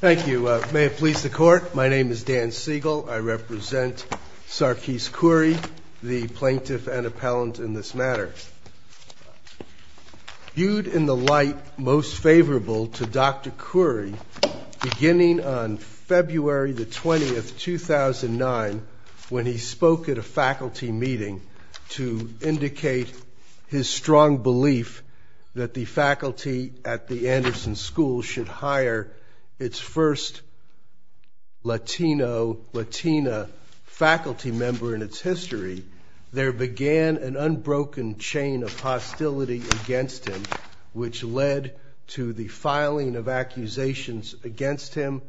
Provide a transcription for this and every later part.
Thank you. May it please the Court, my name is Dan Siegel. I represent Sarkis Khoury, the plaintiff and appellant in this matter. Viewed in the light most favorable to Dr. Khoury, beginning on February 20, 2009, when he spoke at a faculty meeting to indicate his strong belief that the faculty at the Anderson School should hire its first Latino, Latina faculty member in its history, there began an unbroken chain of hostility against him, which led to the filing of accusations against him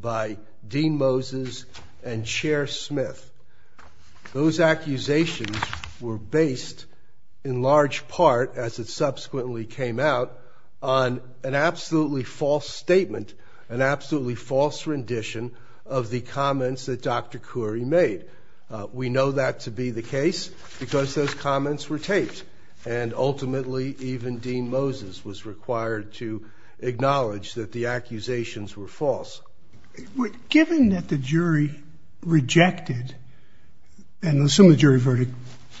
by Dean Moses and Chair Smith. Those accusations were based in large part, as it subsequently came out, on an absolutely false statement, an absolutely false rendition of the comments that Dr. Khoury made. We know that to be the case because those comments were taped, and ultimately even Dean Moses was required to acknowledge that the accusations were false. Given that the jury rejected, and some of the jury verdict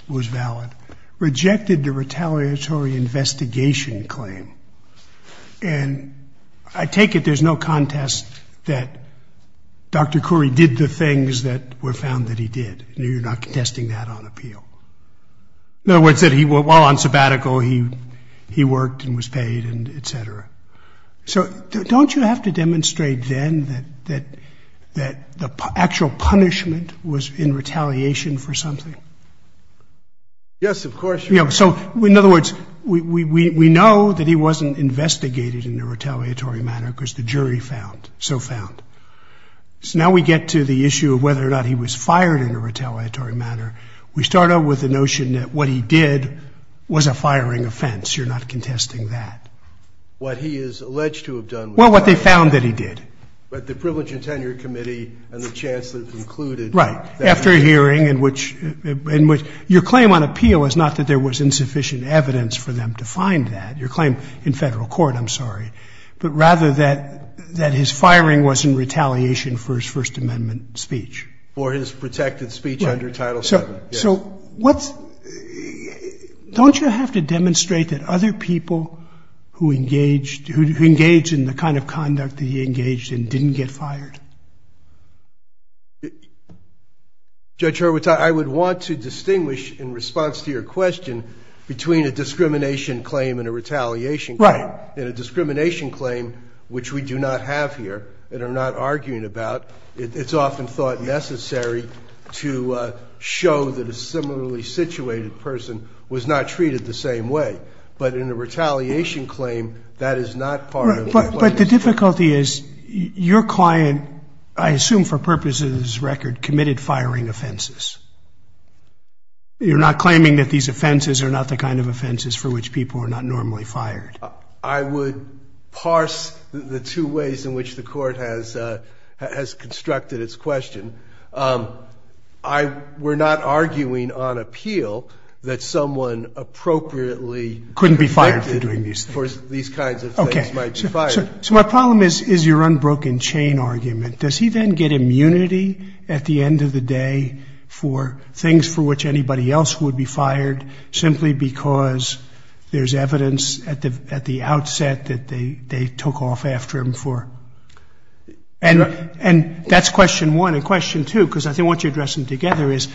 was valid, rejected the retaliatory investigation claim, and I take it there's no contest that Dr. Khoury did the things that were found that he did. You're not contesting that on appeal. In other words, while on sabbatical, he worked and was paid, etc. So don't you have to demonstrate then that the actual punishment was in retaliation for something? Yes, of course. So in other words, we know that he wasn't investigated in a retaliatory manner because the jury found, so found. So now we get to the issue of whether or not he was fired in a retaliatory manner. We start out with the notion that what he did was a firing offense. You're not contesting that. What he is alleged to have done was a firing offense. Well, what they found that he did. But the Privilege and Tenure Committee and the Chancellor concluded that. Right. After a hearing in which your claim on appeal is not that there was insufficient evidence for them to find that. Your claim in federal court, I'm sorry, but rather that his firing was in retaliation for his First Amendment speech. For his protected speech under Title VII, yes. So what's, don't you have to demonstrate that other people who engaged, who engaged in the kind of conduct that he engaged in didn't get fired? Judge Horowitz, I would want to distinguish in response to your question between a discrimination claim and a retaliation claim. Right. And a discrimination claim, which we do not have here and are not arguing about, it's often thought necessary to show that a similarly situated person was not treated the same way. But in a retaliation claim, that is not part of what is. But the difficulty is your client, I assume for purposes of this record, committed firing offenses. You're not claiming that these offenses are not the kind of offenses for which people are not normally fired. I would parse the two ways in which the court has constructed its question. We're not arguing on appeal that someone appropriately. Couldn't be fired for doing these things. For these kinds of things might be fired. Okay. So my problem is your unbroken chain argument. Does he then get immunity at the end of the day for things for which anybody else would be fired, simply because there's evidence at the outset that they took off after him for? And that's question one. And question two, because I want you to address them together, is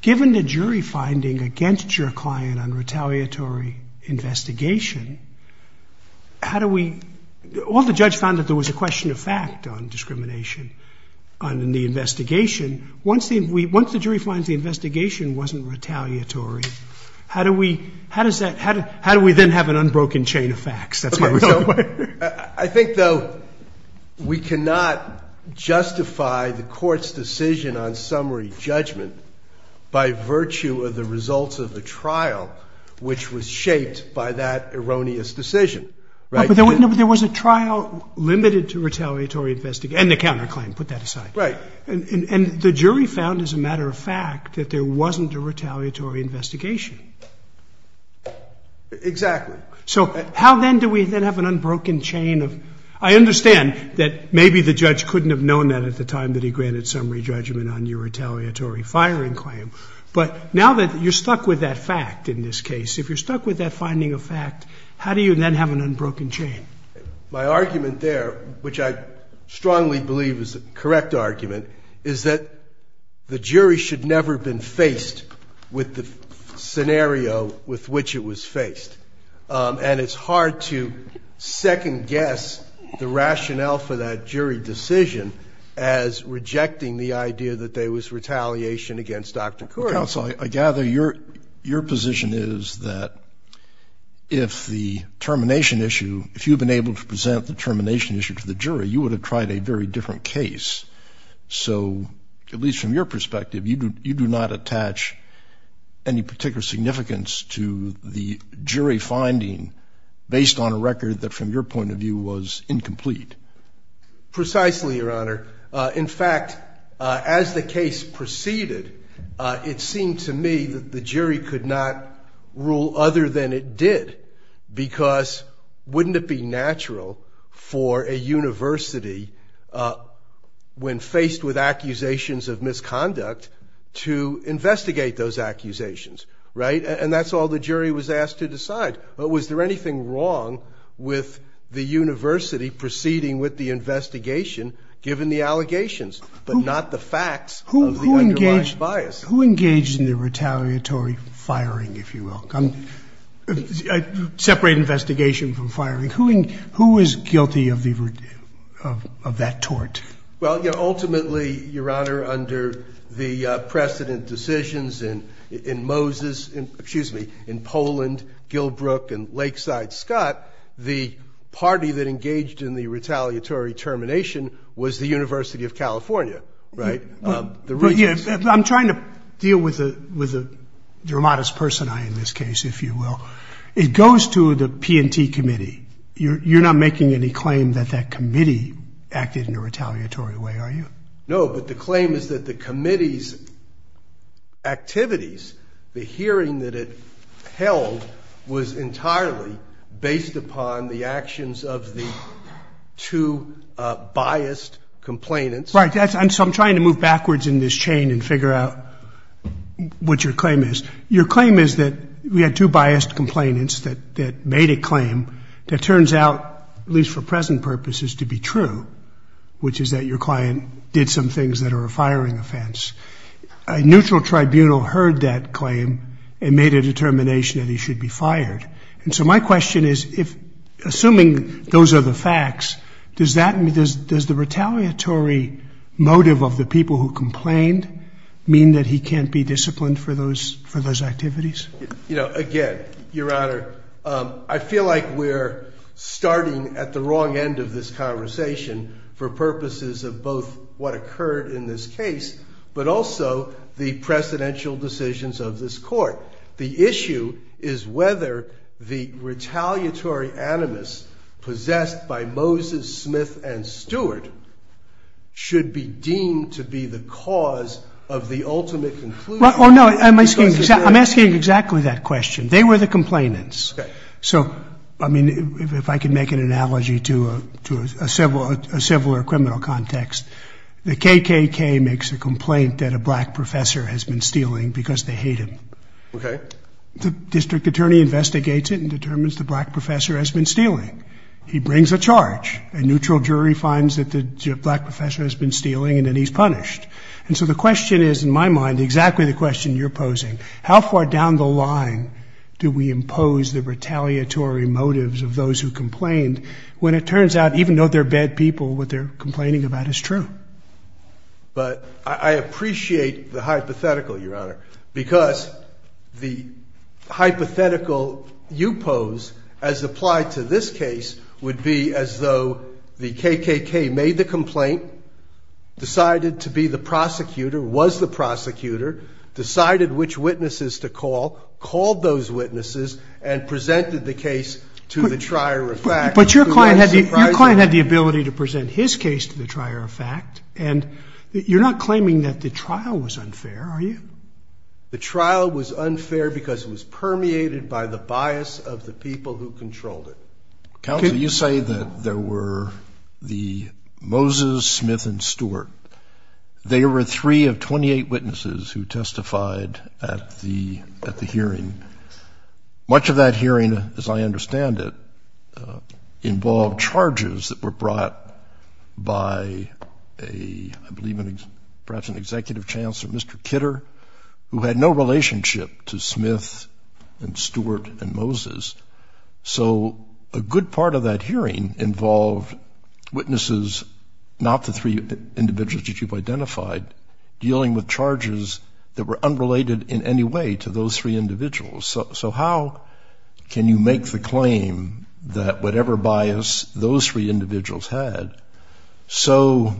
given the jury finding against your client on retaliatory investigation, how do we – all the judge found that there was a question of fact on discrimination in the investigation. Once the jury finds the investigation wasn't retaliatory, how do we then have an unbroken chain of facts? That's my real question. I think, though, we cannot justify the court's decision on summary judgment by virtue of the results of the trial, which was shaped by that erroneous decision. But there was a trial limited to retaliatory investigation. And the counterclaim. Put that aside. Right. And the jury found, as a matter of fact, that there wasn't a retaliatory investigation. Exactly. So how then do we then have an unbroken chain of – I understand that maybe the judge couldn't have known that at the time that he granted summary judgment on your retaliatory firing claim. But now that you're stuck with that fact in this case, if you're stuck with that finding of fact, how do you then have an unbroken chain? My argument there, which I strongly believe is the correct argument, is that the jury should never have been faced with the scenario with which it was faced. And it's hard to second-guess the rationale for that jury decision as rejecting the idea that there was retaliation against Dr. Couric. Counsel, I gather your position is that if the termination issue – if you've been able to present the termination issue to the jury, you would have tried a very different case. So, at least from your perspective, you do not attach any particular significance to the jury finding based on a record that, from your point of view, was incomplete. Precisely, Your Honor. In fact, as the case proceeded, it seemed to me that the jury could not rule other than it did, because wouldn't it be natural for a university, when faced with accusations of misconduct, to investigate those accusations, right? And that's all the jury was asked to decide. But was there anything wrong with the university proceeding with the investigation, given the allegations, but not the facts of the underlying bias? Who engaged in the retaliatory firing, if you will? Separate investigation from firing. Who was guilty of that tort? Well, you know, ultimately, Your Honor, under the precedent decisions in Moses – excuse me, in Poland, Gilbrook, and Lakeside Scott, the party that engaged in the retaliatory termination was the University of California, right? I'm trying to deal with your modest person, in this case, if you will. It goes to the P&T committee. You're not making any claim that that committee acted in a retaliatory way, are you? No, but the claim is that the committee's activities, the hearing that it held, was entirely based upon the actions of the two biased complainants. Right. So I'm trying to move backwards in this chain and figure out what your claim is. Your claim is that we had two biased complainants that made a claim that turns out, at least for present purposes, to be true, which is that your client did some things that are a firing offense. A neutral tribunal heard that claim and made a determination that he should be fired. And so my question is, assuming those are the facts, does the retaliatory motive of the people who complained mean that he can't be disciplined for those activities? Again, Your Honor, I feel like we're starting at the wrong end of this conversation for purposes of both what occurred in this case, but also the precedential decisions of this court. The issue is whether the retaliatory animus possessed by Moses, Smith, and Stewart should be deemed to be the cause of the ultimate conclusion. Well, no, I'm asking exactly that question. They were the complainants. Okay. So, I mean, if I can make an analogy to a civil or criminal context, the KKK makes a complaint that a black professor has been stealing because they hate him. Okay. The district attorney investigates it and determines the black professor has been stealing. He brings a charge. A neutral jury finds that the black professor has been stealing and that he's punished. And so the question is, in my mind, exactly the question you're posing, how far down the line do we impose the retaliatory motives of those who complained when it turns out, even though they're bad people, what they're complaining about is true? But I appreciate the hypothetical, Your Honor, because the hypothetical you pose as applied to this case would be as though the KKK made the complaint, decided to be the prosecutor, was the prosecutor, decided which witnesses to call, called those witnesses, and presented the case to the trier of facts. But your client had the ability to present his case to the trier of facts, and you're not claiming that the trial was unfair, are you? The trial was unfair because it was permeated by the bias of the people who controlled it. Counsel, you say that there were the Moses, Smith, and Stewart. They were three of 28 witnesses who testified at the hearing. Much of that hearing, as I understand it, involved charges that were brought by, I believe, perhaps an executive chancellor, Mr. Kidder, who had no relationship to Smith and Stewart and Moses. So a good part of that hearing involved witnesses, not the three individuals that you've identified, dealing with charges that were unrelated in any way to those three individuals. So how can you make the claim that whatever bias those three individuals had so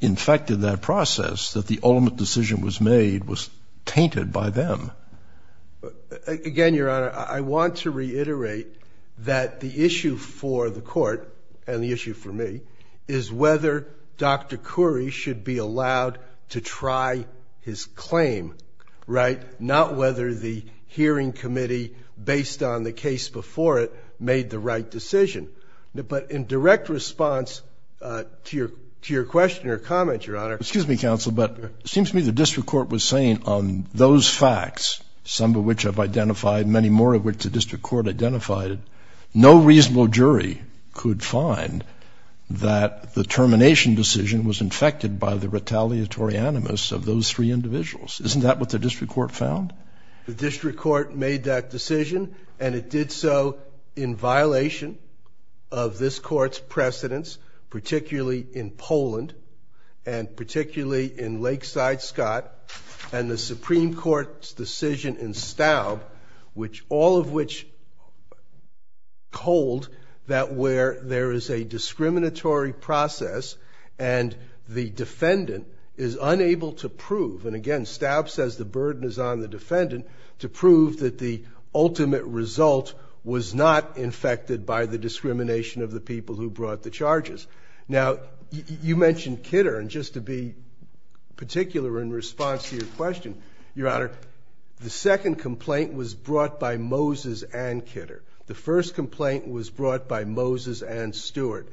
infected that process that the ultimate decision was made was tainted by them? Again, Your Honor, I want to reiterate that the issue for the court and the issue for me is whether Dr. Khoury should be allowed to try his claim, right, not whether the hearing committee, based on the case before it, made the right decision. But in direct response to your question or comment, Your Honor. Excuse me, Counsel, but it seems to me the district court was saying on those facts, some of which I've identified, many more of which the district court identified, that no reasonable jury could find that the termination decision was infected by the retaliatory animus of those three individuals. Isn't that what the district court found? The district court made that decision, and it did so in violation of this court's precedents, particularly in Poland and particularly in Lakeside, Scott, and the Supreme Court's decision in Staub, all of which hold that where there is a discriminatory process and the defendant is unable to prove, and again, Staub says the burden is on the defendant to prove that the ultimate result was not infected by the discrimination of the people who brought the charges. Now, you mentioned Kidder, and just to be particular in response to your question, Your Honor, the second complaint was brought by Moses and Kidder. The first complaint was brought by Moses and Stewart.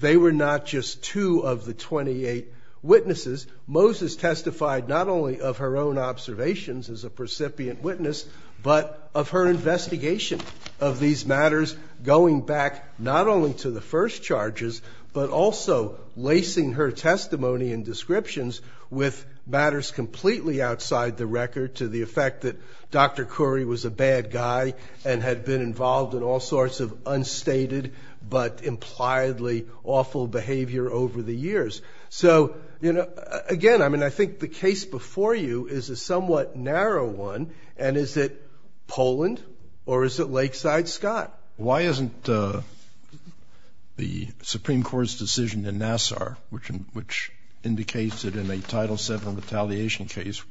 They were not just two of the 28 witnesses. Moses testified not only of her own observations as a percipient witness, but of her investigation of these matters going back not only to the first charges, but also lacing her testimony and descriptions with matters completely outside the record to the effect that Dr. Khoury was a bad guy and had been involved in all sorts of unstated but impliedly awful behavior over the years. So, you know, again, I mean, I think the case before you is a somewhat narrow one, and is it Poland or is it Lakeside, Scott? Why isn't the Supreme Court's decision in Nassar, which indicates that in a Title VII retaliation case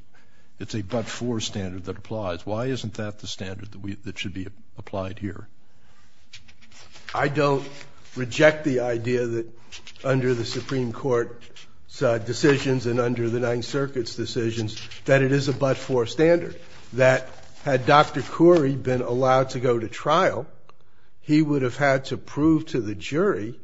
it's a but-for standard that applies, why isn't that the standard that should be applied here? I don't reject the idea that under the Supreme Court's decisions and under the Ninth Circuit's decisions that it is a but-for standard, that had Dr. Khoury been allowed to go to trial, he would have had to prove to the jury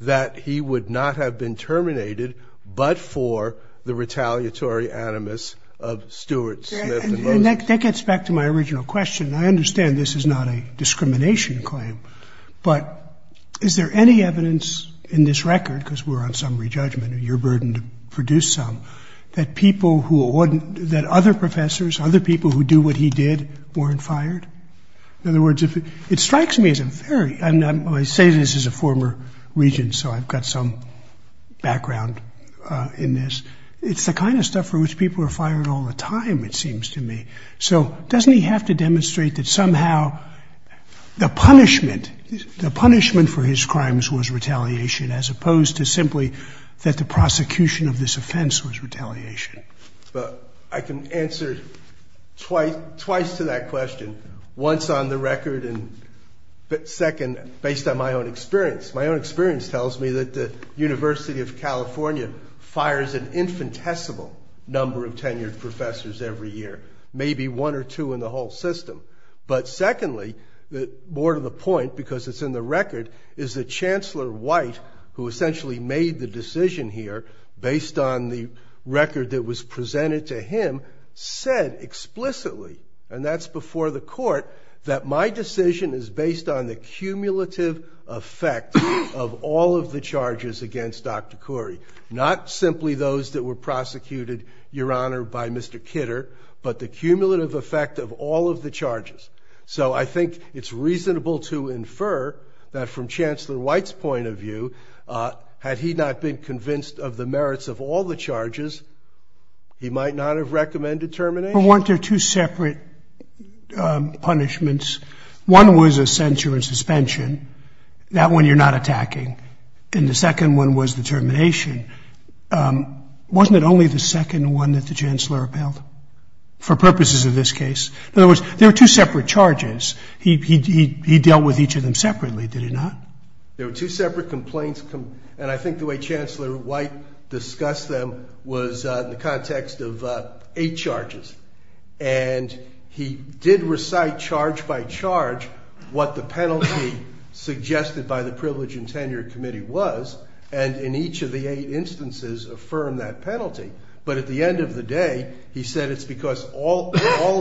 that he would not have been terminated but for the retaliatory animus of Stewart, Smith, and Moses. And that gets back to my original question. I understand this is not a discrimination claim, but is there any evidence in this record, because we're on summary judgment, and you're burdened to produce some, that other professors, other people who do what he did, weren't fired? In other words, it strikes me as a very—I say this as a former regent, so I've got some background in this. It's the kind of stuff for which people are fired all the time, it seems to me. So doesn't he have to demonstrate that somehow the punishment for his crimes was retaliation as opposed to simply that the prosecution of this offense was retaliation? I can answer twice to that question. Once on the record, and second, based on my own experience. My own experience tells me that the University of California fires an infinitesimal number of tenured professors every year, maybe one or two in the whole system. But secondly, more to the point because it's in the record, is that Chancellor White, who essentially made the decision here, based on the record that was presented to him, said explicitly, and that's before the court, that my decision is based on the cumulative effect of all of the charges against Dr. Khoury, not simply those that were prosecuted, Your Honor, by Mr. Kidder, but the cumulative effect of all of the charges. So I think it's reasonable to infer that from Chancellor White's point of view, had he not been convinced of the merits of all the charges, he might not have recommended termination. But weren't there two separate punishments? One was a censure and suspension. That one you're not attacking. And the second one was the termination. Wasn't it only the second one that the Chancellor upheld for purposes of this case? In other words, there were two separate charges. He dealt with each of them separately, did he not? There were two separate complaints. And I think the way Chancellor White discussed them was in the context of eight charges. And he did recite, charge by charge, what the penalty suggested by the Privilege and Tenure Committee was, and in each of the eight instances affirmed that penalty. But at the end of the day, he said it's because all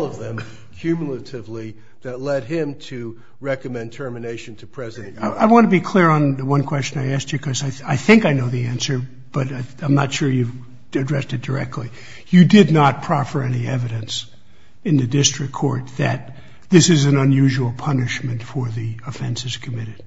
of them, cumulatively, that led him to recommend termination to President. I want to be clear on the one question I asked you, because I think I know the answer, but I'm not sure you've addressed it directly. You did not proffer any evidence in the district court that this is an unusual punishment for the offenses committed.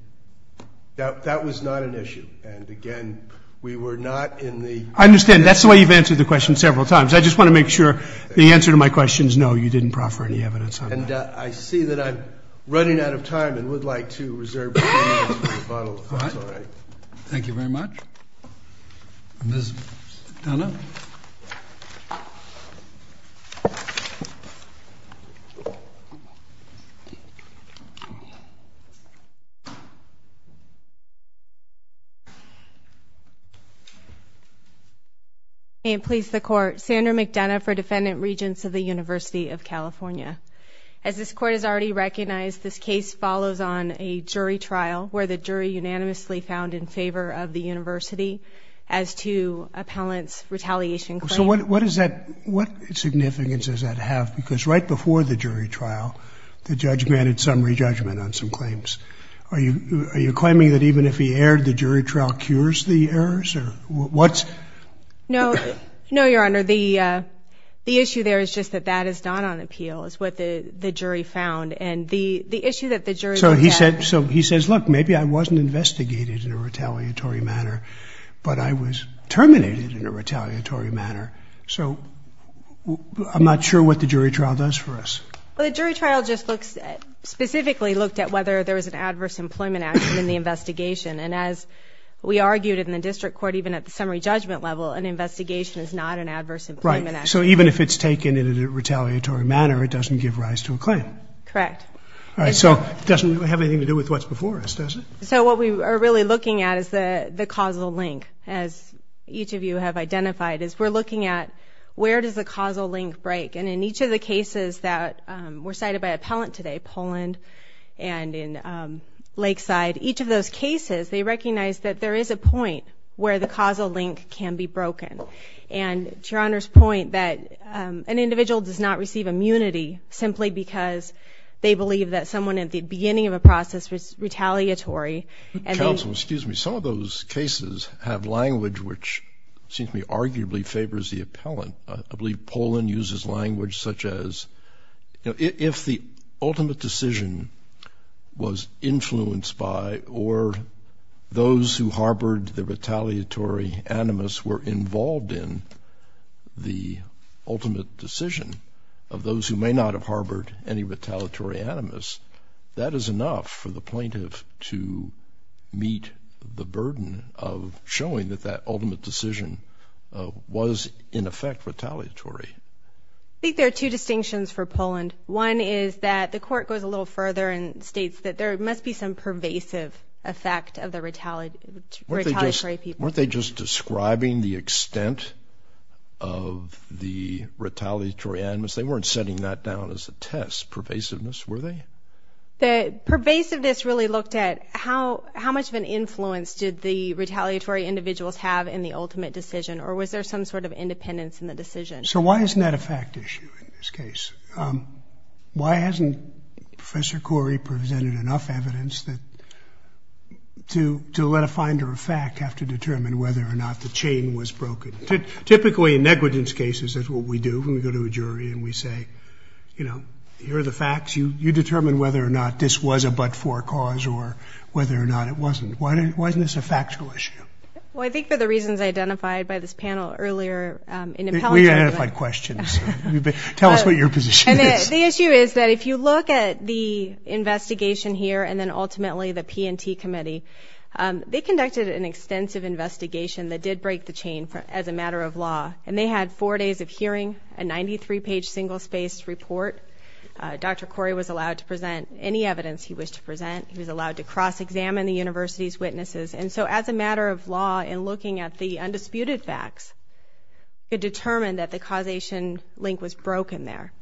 That was not an issue. And, again, we were not in the... I understand. That's the way you've answered the question several times. I just want to make sure the answer to my question is no, you didn't proffer any evidence on that. And I see that I'm running out of time and would like to reserve the minutes for the final defense. All right. Thank you very much. Ms. McDonough? May it please the Court. Sandra McDonough for Defendant Regents of the University of California. As this Court has already recognized, this case follows on a jury trial where the jury unanimously found in favor of the university as to appellant's retaliation claim. So what significance does that have? Because right before the jury trial, the judge granted summary judgment on some claims. Are you claiming that even if he erred, the jury trial cures the errors? No, Your Honor. The issue there is just that that is not on appeal, is what the jury found. So he says, look, maybe I wasn't investigated in a retaliatory manner, but I was terminated in a retaliatory manner. So I'm not sure what the jury trial does for us. Well, the jury trial just specifically looked at whether there was an adverse employment action in the investigation. And as we argued in the district court, even at the summary judgment level, an investigation is not an adverse employment action. So even if it's taken in a retaliatory manner, it doesn't give rise to a claim. Correct. All right, so it doesn't have anything to do with what's before us, does it? So what we are really looking at is the causal link, as each of you have identified, is we're looking at where does the causal link break. And in each of the cases that were cited by appellant today, Poland and in Lakeside, each of those cases, they recognized that there is a point where the causal link can be broken. And to Your Honor's point that an individual does not receive immunity simply because they believe that someone, at the beginning of a process, was retaliatory. Counsel, excuse me. Some of those cases have language which seems to me arguably favors the appellant. I believe Poland uses language such as, you know, And if the ultimate decision was influenced by or those who harbored the retaliatory animus were involved in, the ultimate decision of those who may not have harbored any retaliatory animus, that is enough for the plaintiff to meet the burden of showing that that ultimate decision was, in effect, retaliatory. I think there are two distinctions for Poland. One is that the court goes a little further and states that there must be some pervasive effect of the retaliatory people. Weren't they just describing the extent of the retaliatory animus? They weren't setting that down as a test, pervasiveness, were they? The pervasiveness really looked at how much of an influence did the retaliatory individuals have in the ultimate decision or was there some sort of independence in the decision? So why isn't that a fact issue in this case? Why hasn't Professor Corey presented enough evidence to let a finder of fact have to determine whether or not the chain was broken? Typically, in negligence cases, that's what we do when we go to a jury and we say, you know, here are the facts. You determine whether or not this was a but-for cause or whether or not it wasn't. Why isn't this a factual issue? Well, I think for the reasons identified by this panel earlier. We identified questions. Tell us what your position is. The issue is that if you look at the investigation here and then ultimately the P&T committee, they conducted an extensive investigation that did break the chain as a matter of law, and they had four days of hearing, a 93-page single-spaced report. Dr. Corey was allowed to present any evidence he wished to present. He was allowed to cross-examine the university's witnesses. And so as a matter of law, in looking at the undisputed facts, it determined that the causation link was broken there.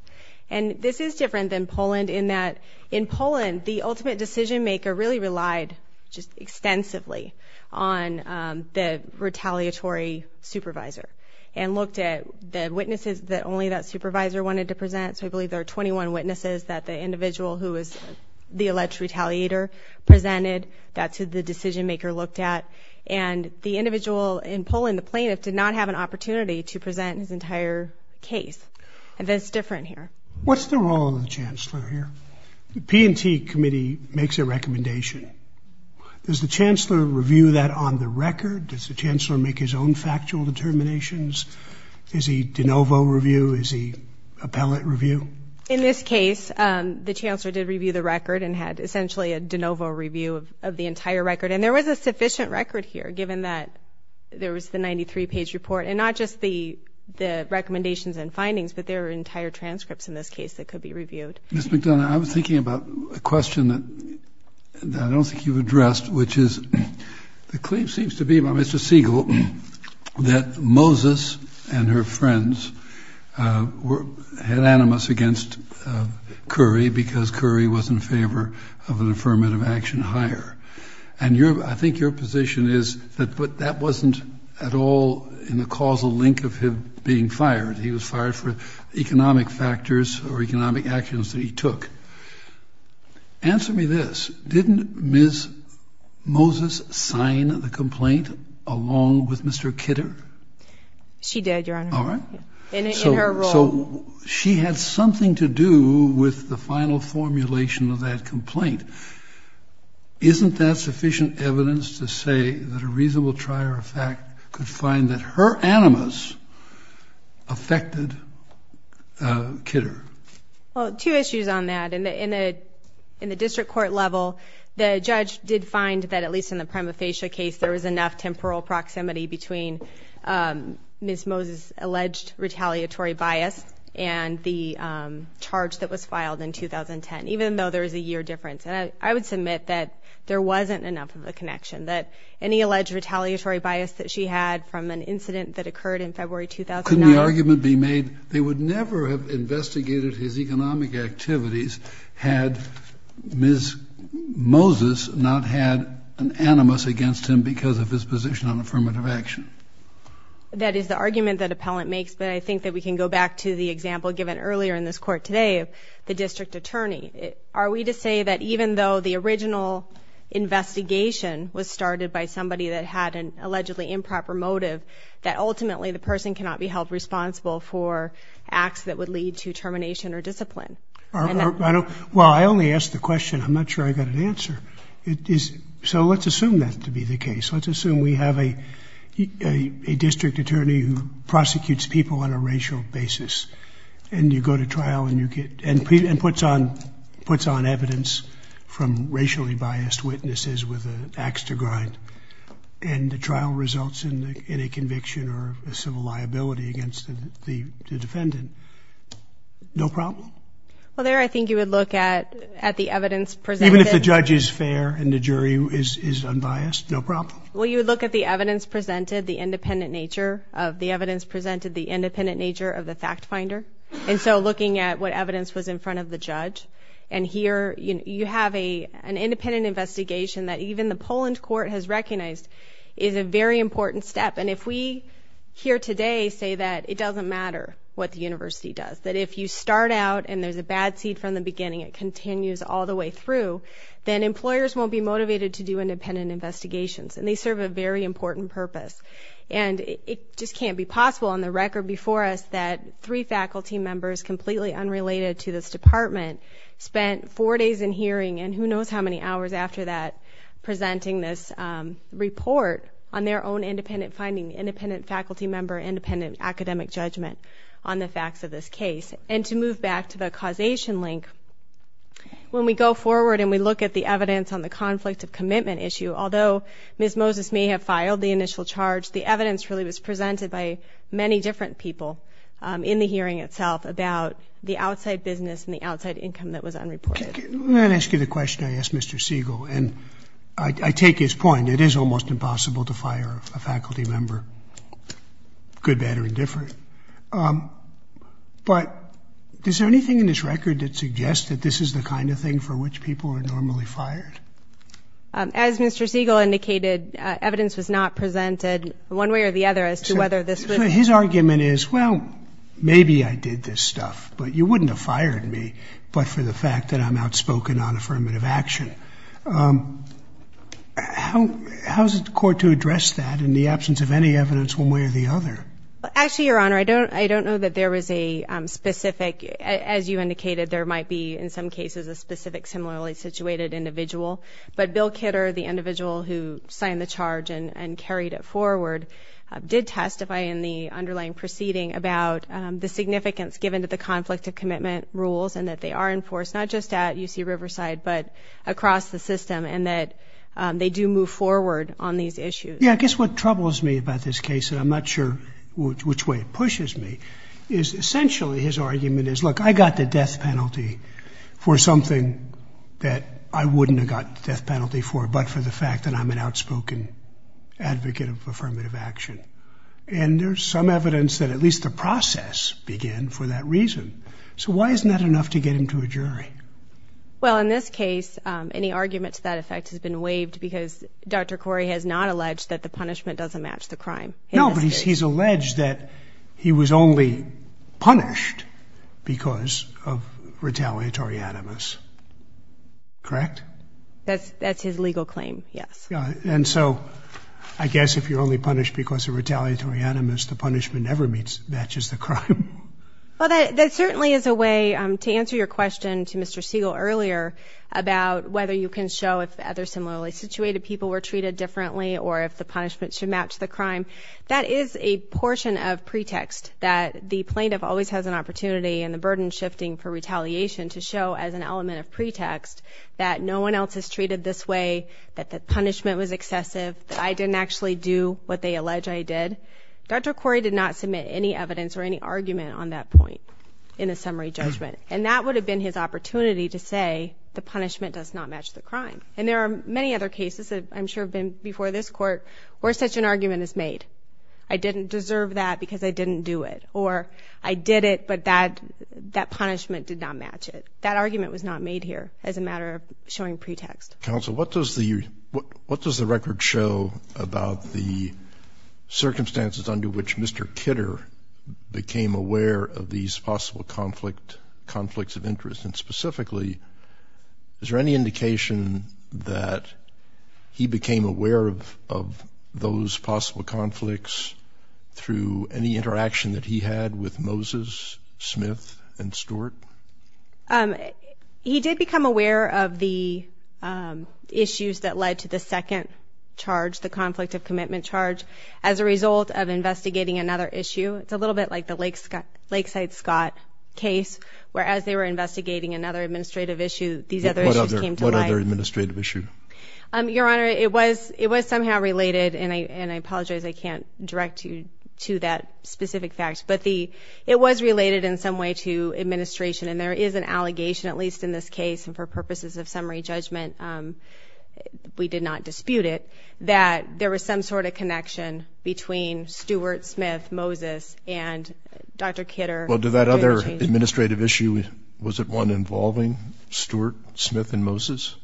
And this is different than Poland in that, in Poland, the ultimate decision-maker really relied just extensively on the retaliatory supervisor and looked at the witnesses that only that supervisor wanted to present. So I believe there are 21 witnesses that the individual who was the alleged retaliator presented. That's who the decision-maker looked at. And the individual in Poland, the plaintiff, did not have an opportunity to present his entire case. And that's different here. What's the role of the chancellor here? The P&T committee makes a recommendation. Does the chancellor review that on the record? Does the chancellor make his own factual determinations? Is he de novo review? Is he appellate review? In this case, the chancellor did review the record and had essentially a de novo review of the entire record. And there was a sufficient record here, given that there was the 93-page report, and not just the recommendations and findings, but there were entire transcripts in this case that could be reviewed. Ms. McDonough, I was thinking about a question that I don't think you've addressed, which is the claim seems to be by Mr. Siegel that Moses and her friends had animus against Currie because Currie was in favor of an affirmative action hire. And I think your position is that that wasn't at all in the causal link of him being fired. He was fired for economic factors or economic actions that he took. Answer me this. Didn't Ms. Moses sign the complaint along with Mr. Kidder? She did, Your Honor. All right. In her role. So she had something to do with the final formulation of that complaint. Isn't that sufficient evidence to say that a reasonable trier of fact could find that her animus affected Kidder? Well, two issues on that. In the district court level, the judge did find that at least in the prima facie case there was enough temporal proximity between Ms. Moses' alleged retaliatory bias and the charge that was filed in 2010, even though there was a year difference. And I would submit that there wasn't enough of a connection, that any alleged retaliatory bias that she had from an incident that occurred in February 2009 Couldn't the argument be made that they would never have investigated his economic activities had Ms. Moses not had an animus against him because of his position on affirmative action? That is the argument that appellant makes, but I think that we can go back to the example given earlier in this court today of the district attorney. Are we to say that even though the original investigation was started by somebody that had an allegedly improper motive, that ultimately the person cannot be held responsible for acts that would lead to termination or discipline? Well, I only asked the question. I'm not sure I got an answer. So let's assume that to be the case. Let's assume we have a district attorney who prosecutes people on a racial basis and you go to trial and puts on evidence from racially biased witnesses with an ax to grind. And the trial results in a conviction or a civil liability against the defendant. No problem? Well, there I think you would look at the evidence presented. Even if the judge is fair and the jury is unbiased? No problem? Well, you would look at the evidence presented, the independent nature of the evidence presented, the independent nature of the fact finder. And so looking at what evidence was in front of the judge. And here you have an independent investigation that even the Poland court has recognized is a very important step. And if we here today say that it doesn't matter what the university does, that if you start out and there's a bad seed from the beginning, it continues all the way through, then employers won't be motivated to do independent investigations. And they serve a very important purpose. And it just can't be possible on the record before us that three faculty members, completely unrelated to this department, spent four days in hearing and who knows how many hours after that presenting this report on their own independent finding, independent faculty member, independent academic judgment on the facts of this case. And to move back to the causation link, when we go forward and we look at the evidence on the conflict of commitment issue, although Ms. Moses may have filed the initial charge, the evidence really was presented by many different people in the hearing itself about the outside business and the outside income that was unreported. Let me ask you the question I asked Mr. Siegel. And I take his point. It is almost impossible to fire a faculty member, good, bad, or indifferent. But is there anything in this record that suggests that this is the kind of thing for which people are normally fired? As Mr. Siegel indicated, evidence was not presented one way or the other as to whether this was. So his argument is, well, maybe I did this stuff, but you wouldn't have fired me, but for the fact that I'm outspoken on affirmative action. How is the court to address that in the absence of any evidence one way or the other? Actually, Your Honor, I don't know that there was a specific, as you indicated, there might be in some cases a specific similarly situated individual. But Bill Kidder, the individual who signed the charge and carried it forward, did testify in the underlying proceeding about the significance given to the conflict of commitment rules and that they are enforced not just at UC Riverside but across the system and that they do move forward on these issues. Yeah, I guess what troubles me about this case, and I'm not sure which way it pushes me, is essentially his argument is, look, I got the death penalty for something that I wouldn't have got the death penalty for, but for the fact that I'm an outspoken advocate of affirmative action. And there's some evidence that at least the process began for that reason. So why isn't that enough to get him to a jury? Well, in this case, any argument to that effect has been waived because Dr. Corey has not alleged that the punishment doesn't match the crime. No, but he's alleged that he was only punished because of retaliatory animus. Correct? That's his legal claim, yes. And so I guess if you're only punished because of retaliatory animus, the punishment never matches the crime. Well, that certainly is a way to answer your question to Mr. Siegel earlier about whether you can show if other similarly situated people were treated differently or if the punishment should match the crime. That is a portion of pretext that the plaintiff always has an opportunity and the burden shifting for retaliation to show as an element of pretext that no one else is treated this way, that the punishment was excessive, that I didn't actually do what they allege I did. Dr. Corey did not submit any evidence or any argument on that point in a summary judgment, and that would have been his opportunity to say the punishment does not match the crime. And there are many other cases that I'm sure have been before this court where such an argument is made. I didn't deserve that because I didn't do it. Or I did it, but that punishment did not match it. That argument was not made here as a matter of showing pretext. Counsel, what does the record show about the circumstances under which Mr. Kidder became aware of these possible conflicts of interest? And specifically, is there any indication that he became aware of those possible conflicts through any interaction that he had with Moses, Smith, and Stewart? He did become aware of the issues that led to the second charge, the conflict of commitment charge, as a result of investigating another issue. It's a little bit like the Lakeside-Scott case, where as they were investigating another administrative issue, these other issues came to light. What other administrative issue? Your Honor, it was somehow related, and I apologize I can't direct you to that specific fact, but it was related in some way to administration. And there is an allegation, at least in this case, and for purposes of summary judgment we did not dispute it, that there was some sort of connection between Stewart, Smith, Moses, and Dr. Kidder. Well, did that other administrative issue, was it one involving Stewart, Smith, and Moses?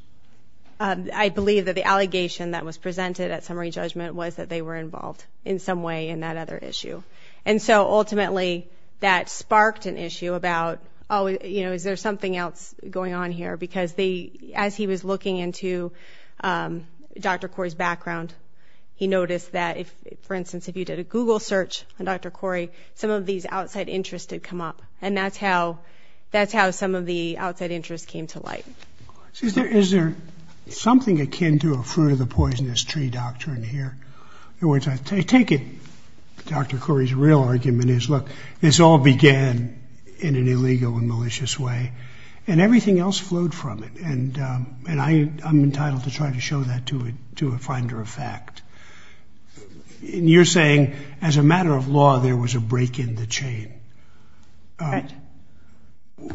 I believe that the allegation that was presented at summary judgment was that they were involved in some way in that other issue. And so ultimately that sparked an issue about, oh, is there something else going on here? Because as he was looking into Dr. Corey's background, he noticed that, for instance, if you did a Google search on Dr. Corey, some of these outside interests had come up. And that's how some of the outside interests came to light. Is there something akin to a fruit-of-the-poisonous-tree doctrine here? In other words, I take it Dr. Corey's real argument is, look, this all began in an illegal and malicious way, and everything else flowed from it. And I'm entitled to try to show that to a finder of fact. And you're saying as a matter of law there was a break in the chain. Right.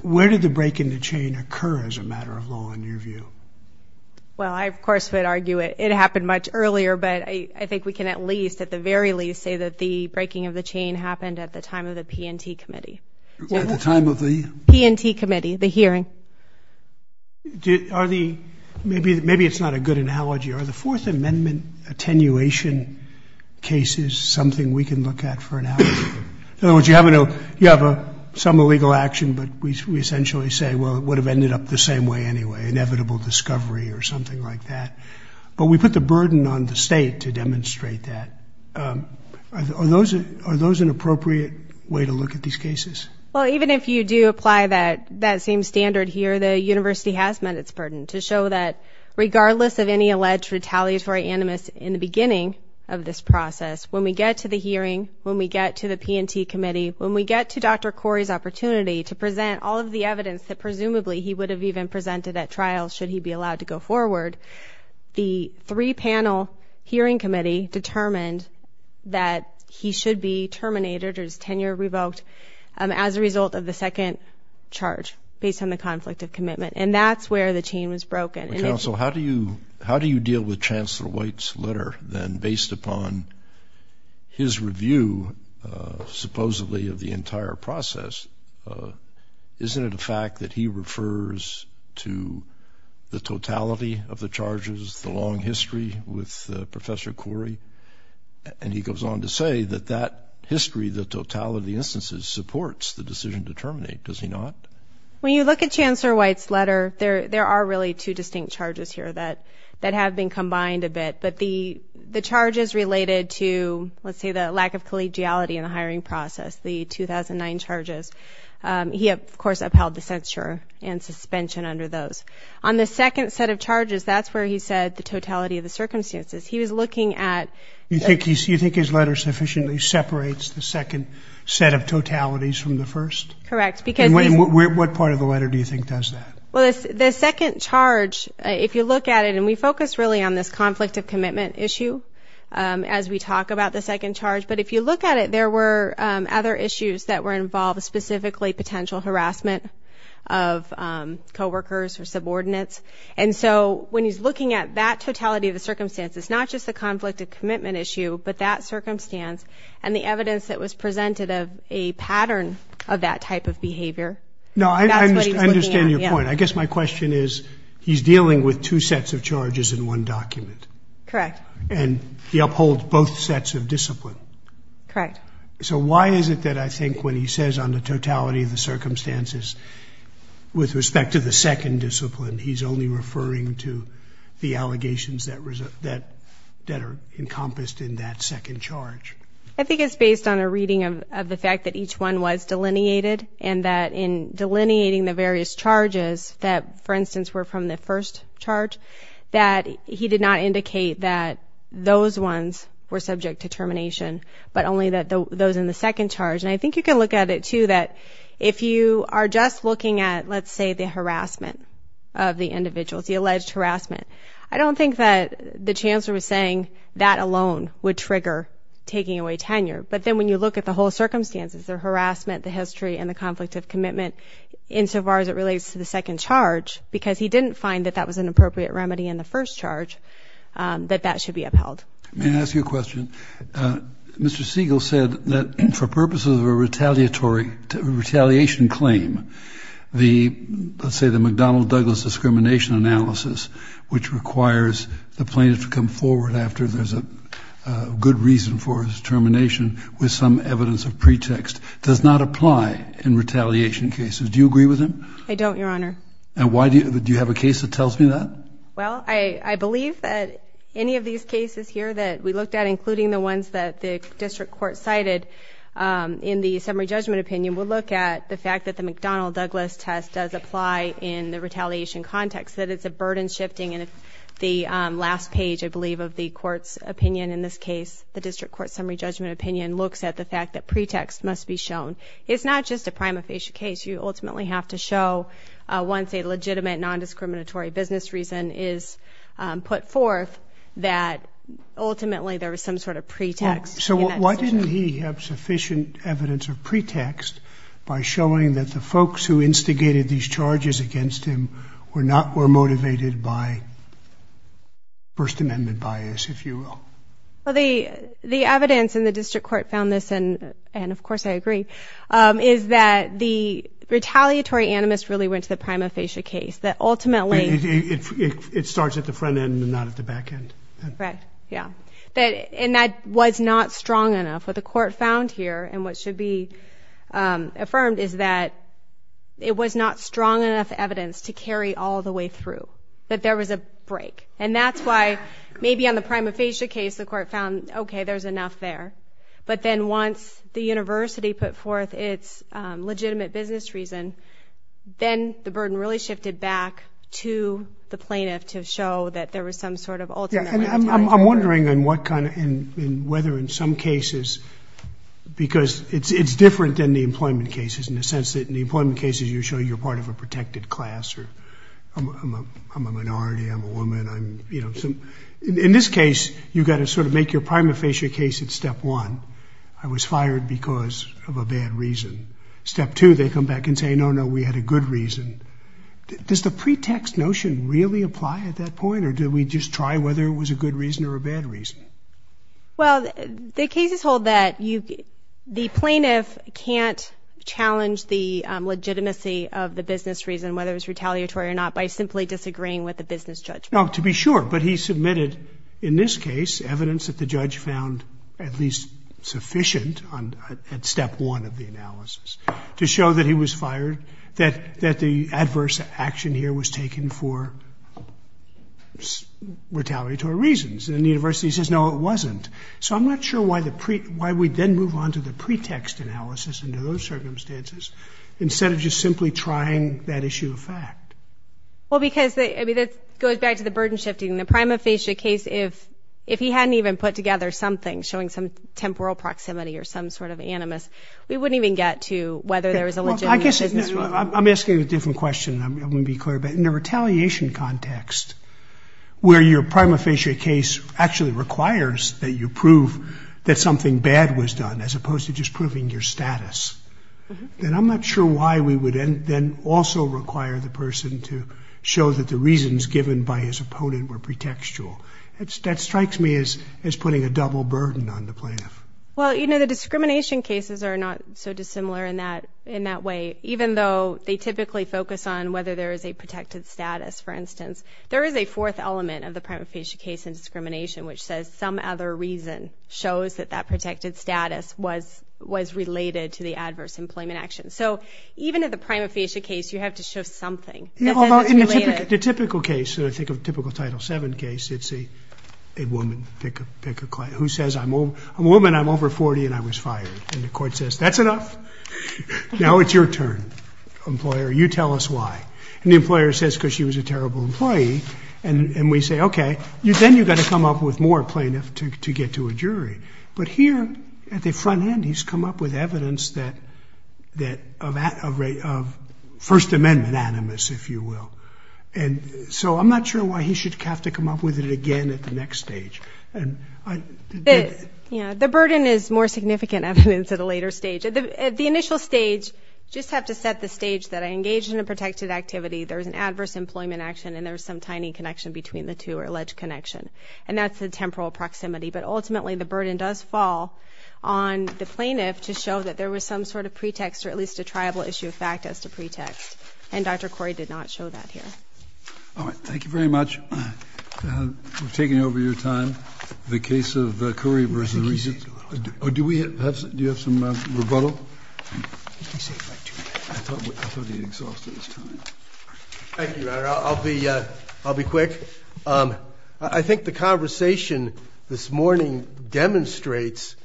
Where did the break in the chain occur as a matter of law in your view? Well, I, of course, would argue it happened much earlier, but I think we can at least, at the very least, say that the breaking of the chain happened at the time of the P&T Committee. At the time of the? P&T Committee, the hearing. Maybe it's not a good analogy. Are the Fourth Amendment attenuation cases something we can look at for an analogy? In other words, you have some illegal action, but we essentially say, well, it would have ended up the same way anyway, inevitable discovery or something like that. But we put the burden on the state to demonstrate that. Are those an appropriate way to look at these cases? Well, even if you do apply that same standard here, the university has met its burden to show that regardless of any alleged retaliatory animus in the beginning of this process, when we get to the hearing, when we get to the P&T Committee, when we get to Dr. Corey's opportunity to present all of the evidence that presumably he would have even presented at trial should he be allowed to go forward, the three-panel hearing committee determined that he should be terminated or his tenure revoked as a result of the second charge, based on the conflict of commitment. And that's where the chain was broken. Counsel, how do you deal with Chancellor White's letter, then, based upon his review supposedly of the entire process? Isn't it a fact that he refers to the totality of the charges, the long history with Professor Corey? And he goes on to say that that history, the totality of the instances, supports the decision to terminate. Does he not? When you look at Chancellor White's letter, there are really two distinct charges here that have been combined a bit. But the charges related to, let's say, the lack of collegiality in the hiring process, the 2009 charges, he, of course, upheld the censure and suspension under those. On the second set of charges, that's where he said the totality of the circumstances. He was looking at- You think his letter sufficiently separates the second set of totalities from the first? Correct. And what part of the letter do you think does that? Well, the second charge, if you look at it, and we focus really on this conflict of commitment issue as we talk about the second charge. But if you look at it, there were other issues that were involved, specifically potential harassment of coworkers or subordinates. And so when he's looking at that totality of the circumstances, not just the conflict of commitment issue, but that circumstance and the evidence that was presented of a pattern of that type of behavior, that's what he's looking at. No, I understand your point. I guess my question is he's dealing with two sets of charges in one document. Correct. And he upholds both sets of discipline. Correct. So why is it that I think when he says on the totality of the circumstances, with respect to the second discipline, he's only referring to the allegations that are encompassed in that second charge? I think it's based on a reading of the fact that each one was delineated and that in delineating the various charges that, for instance, were from the first charge, that he did not indicate that those ones were subject to termination, but only those in the second charge. And I think you can look at it, too, that if you are just looking at, let's say, the harassment of the individuals, the alleged harassment, I don't think that the Chancellor was saying that alone would trigger taking away tenure. But then when you look at the whole circumstances, the harassment, the history, and the conflict of commitment, insofar as it relates to the second charge, because he didn't find that that was an appropriate remedy in the first charge, that that should be upheld. May I ask you a question? Mr. Siegel said that for purposes of a retaliation claim, let's say the McDonnell-Douglas discrimination analysis, which requires the plaintiff to come forward after there's a good reason for his termination with some evidence of pretext, does not apply in retaliation cases. Do you agree with him? I don't, Your Honor. And do you have a case that tells me that? Well, I believe that any of these cases here that we looked at, including the ones that the district court cited in the summary judgment opinion, would look at the fact that the McDonnell-Douglas test does apply in the retaliation context, that it's a burden shifting. And the last page, I believe, of the court's opinion in this case, the district court summary judgment opinion, looks at the fact that pretext must be shown. It's not just a prima facie case. You ultimately have to show once a legitimate nondiscriminatory business reason is put forth that ultimately there was some sort of pretext in that decision. So why didn't he have sufficient evidence of pretext by showing that the folks who instigated these charges against him were not more motivated by First Amendment bias, if you will? Well, the evidence in the district court found this, and of course I agree, is that the retaliatory animus really went to the prima facie case, that ultimately... It starts at the front end and not at the back end. Right, yeah. And that was not strong enough. What the court found here, and what should be affirmed, is that it was not strong enough evidence to carry all the way through, that there was a break. And that's why maybe on the prima facie case the court found, okay, there's enough there. But then once the university put forth its legitimate business reason, then the burden really shifted back to the plaintiff to show that there was some sort of ultimate retaliatory... I'm wondering whether in some cases, because it's different than the employment cases in the sense that in the employment cases you show you're part of a protected class, or I'm a minority, I'm a woman, in this case you've got to sort of make your prima facie case at step one, I was fired because of a bad reason. Step two, they come back and say, no, no, we had a good reason. Does the pretext notion really apply at that point, or did we just try whether it was a good reason or a bad reason? Well, the cases hold that the plaintiff can't challenge the legitimacy of the business reason, whether it was retaliatory or not, by simply disagreeing with the business judgment. Now, to be sure, but he submitted, in this case, evidence that the judge found at least sufficient at step one of the analysis to show that he was fired, that the adverse action here was taken for retaliatory reasons. And the university says, no, it wasn't. So I'm not sure why we then move on to the pretext analysis under those circumstances instead of just simply trying that issue of fact. Well, because that goes back to the burden shifting. The prima facie case, if he hadn't even put together something showing some temporal proximity or some sort of animus, we wouldn't even get to whether there was a legitimate business reason. I'm asking a different question. I want to be clear. But in a retaliation context where your prima facie case actually requires that you prove that something bad was done as opposed to just proving your status, then I'm not sure why we would then also require the person to show that the reasons given by his opponent were pretextual. That strikes me as putting a double burden on the plaintiff. Well, you know, the discrimination cases are not so dissimilar in that way, even though they typically focus on whether there is a protected status, for instance. There is a fourth element of the prima facie case in discrimination which says some other reason shows that that protected status was related to the adverse employment action. So even in the prima facie case, you have to show something that says it's related. The typical case that I think of, the typical Title VII case, it's a woman, pick a client, who says, I'm a woman, I'm over 40, and I was fired. And the court says, that's enough. Now it's your turn, employer. You tell us why. And the employer says because she was a terrible employee. And we say, okay, then you've got to come up with more plaintiff to get to a jury. But here, at the front end, he's come up with evidence of First Amendment animus, if you will. And so I'm not sure why he should have to come up with it again at the next stage. The burden is more significant evidence at a later stage. At the initial stage, you just have to set the stage that I engage in a protected activity, there's an adverse employment action, and there's some tiny connection between the two or alleged connection. And that's the temporal proximity. But ultimately, the burden does fall on the plaintiff to show that there was some sort of pretext or at least a triable issue of fact as to pretext. And Dr. Corey did not show that here. All right. Thank you very much. We've taken over your time. The case of Corey versus Regis. Do you have some rebuttal? Thank you, Your Honor. I'll be quick. I think the conversation this morning demonstrates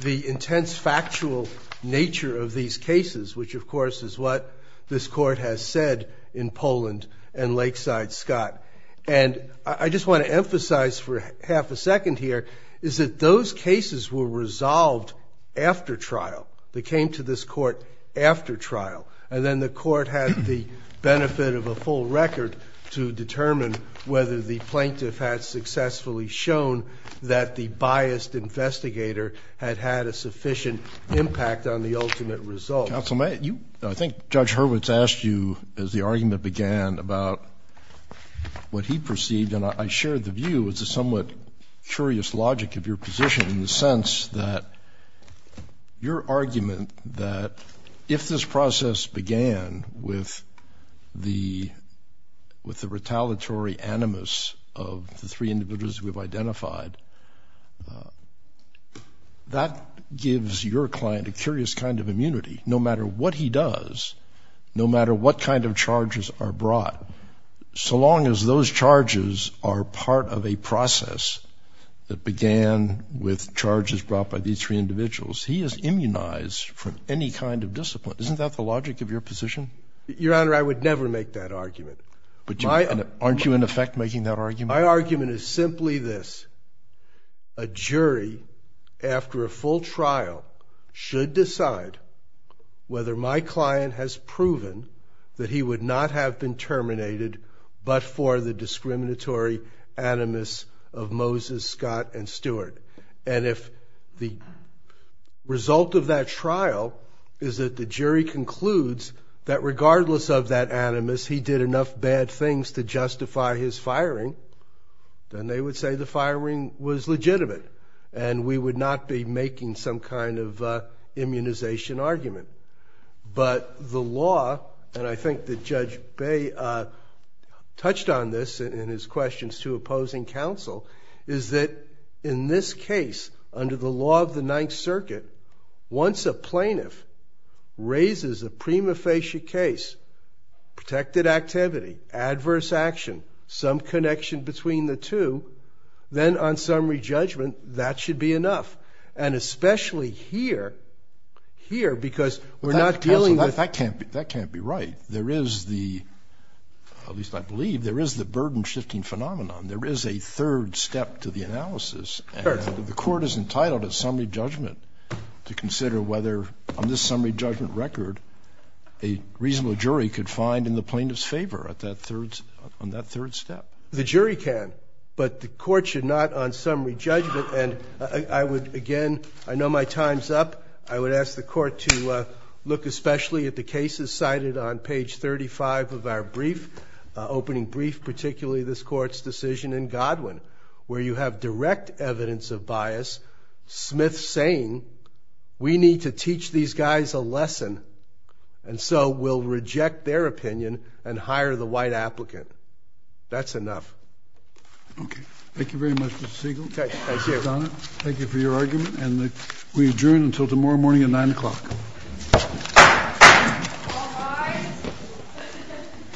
the intense factual nature of these cases, which, of course, is what this court has said in Poland and Lakeside, Scott. And I just want to emphasize for half a second here is that those cases were resolved after trial. They came to this court after trial. And then the court had the benefit of a full record to determine whether the plaintiff had successfully shown that the biased investigator had had a sufficient impact on the ultimate result. Counsel, I think Judge Hurwitz asked you, as the argument began, about what he perceived, and I shared the view as a somewhat curious logic of your position in the sense that your argument that if this process began with the retaliatory animus of the three individuals we've identified, that gives your client a curious kind of immunity. No matter what he does, no matter what kind of charges are brought, so long as those charges are part of a process that began with charges brought by these three individuals, he is immunized from any kind of discipline. Isn't that the logic of your position? Your Honor, I would never make that argument. Aren't you, in effect, making that argument? My argument is simply this. A jury, after a full trial, should decide whether my client has proven that he would not have been terminated but for the discriminatory animus of Moses, Scott, and Stewart. And if the result of that trial is that the jury concludes that regardless of that animus, he did enough bad things to justify his firing, then they would say the firing was legitimate and we would not be making some kind of immunization argument. But the law, and I think that Judge Bay touched on this in his questions to opposing counsel, is that in this case, under the law of the Ninth Circuit, once a plaintiff raises a prima facie case, protected activity, adverse action, some connection between the two, then on summary judgment, that should be enough. And especially here, here, because we're not dealing with... Counsel, that can't be right. There is the, at least I believe, there is the burden-shifting phenomenon. There is a third step to the analysis. The court is entitled at summary judgment to consider whether, on this summary judgment record, a reasonable jury could find in the plaintiff's favor on that third step. The jury can, but the court should not on summary judgment. And I would, again, I know my time's up. I would ask the court to look especially at the cases cited on page 35 of our brief, opening brief, particularly this court's decision in Godwin, where you have direct evidence of bias, Smith saying, we need to teach these guys a lesson, and so we'll reject their opinion and hire the white applicant. That's enough. Okay. Thank you very much, Mr. Siegel. Thank you. Thank you for your argument, and we adjourn until tomorrow morning at 9 o'clock. All rise.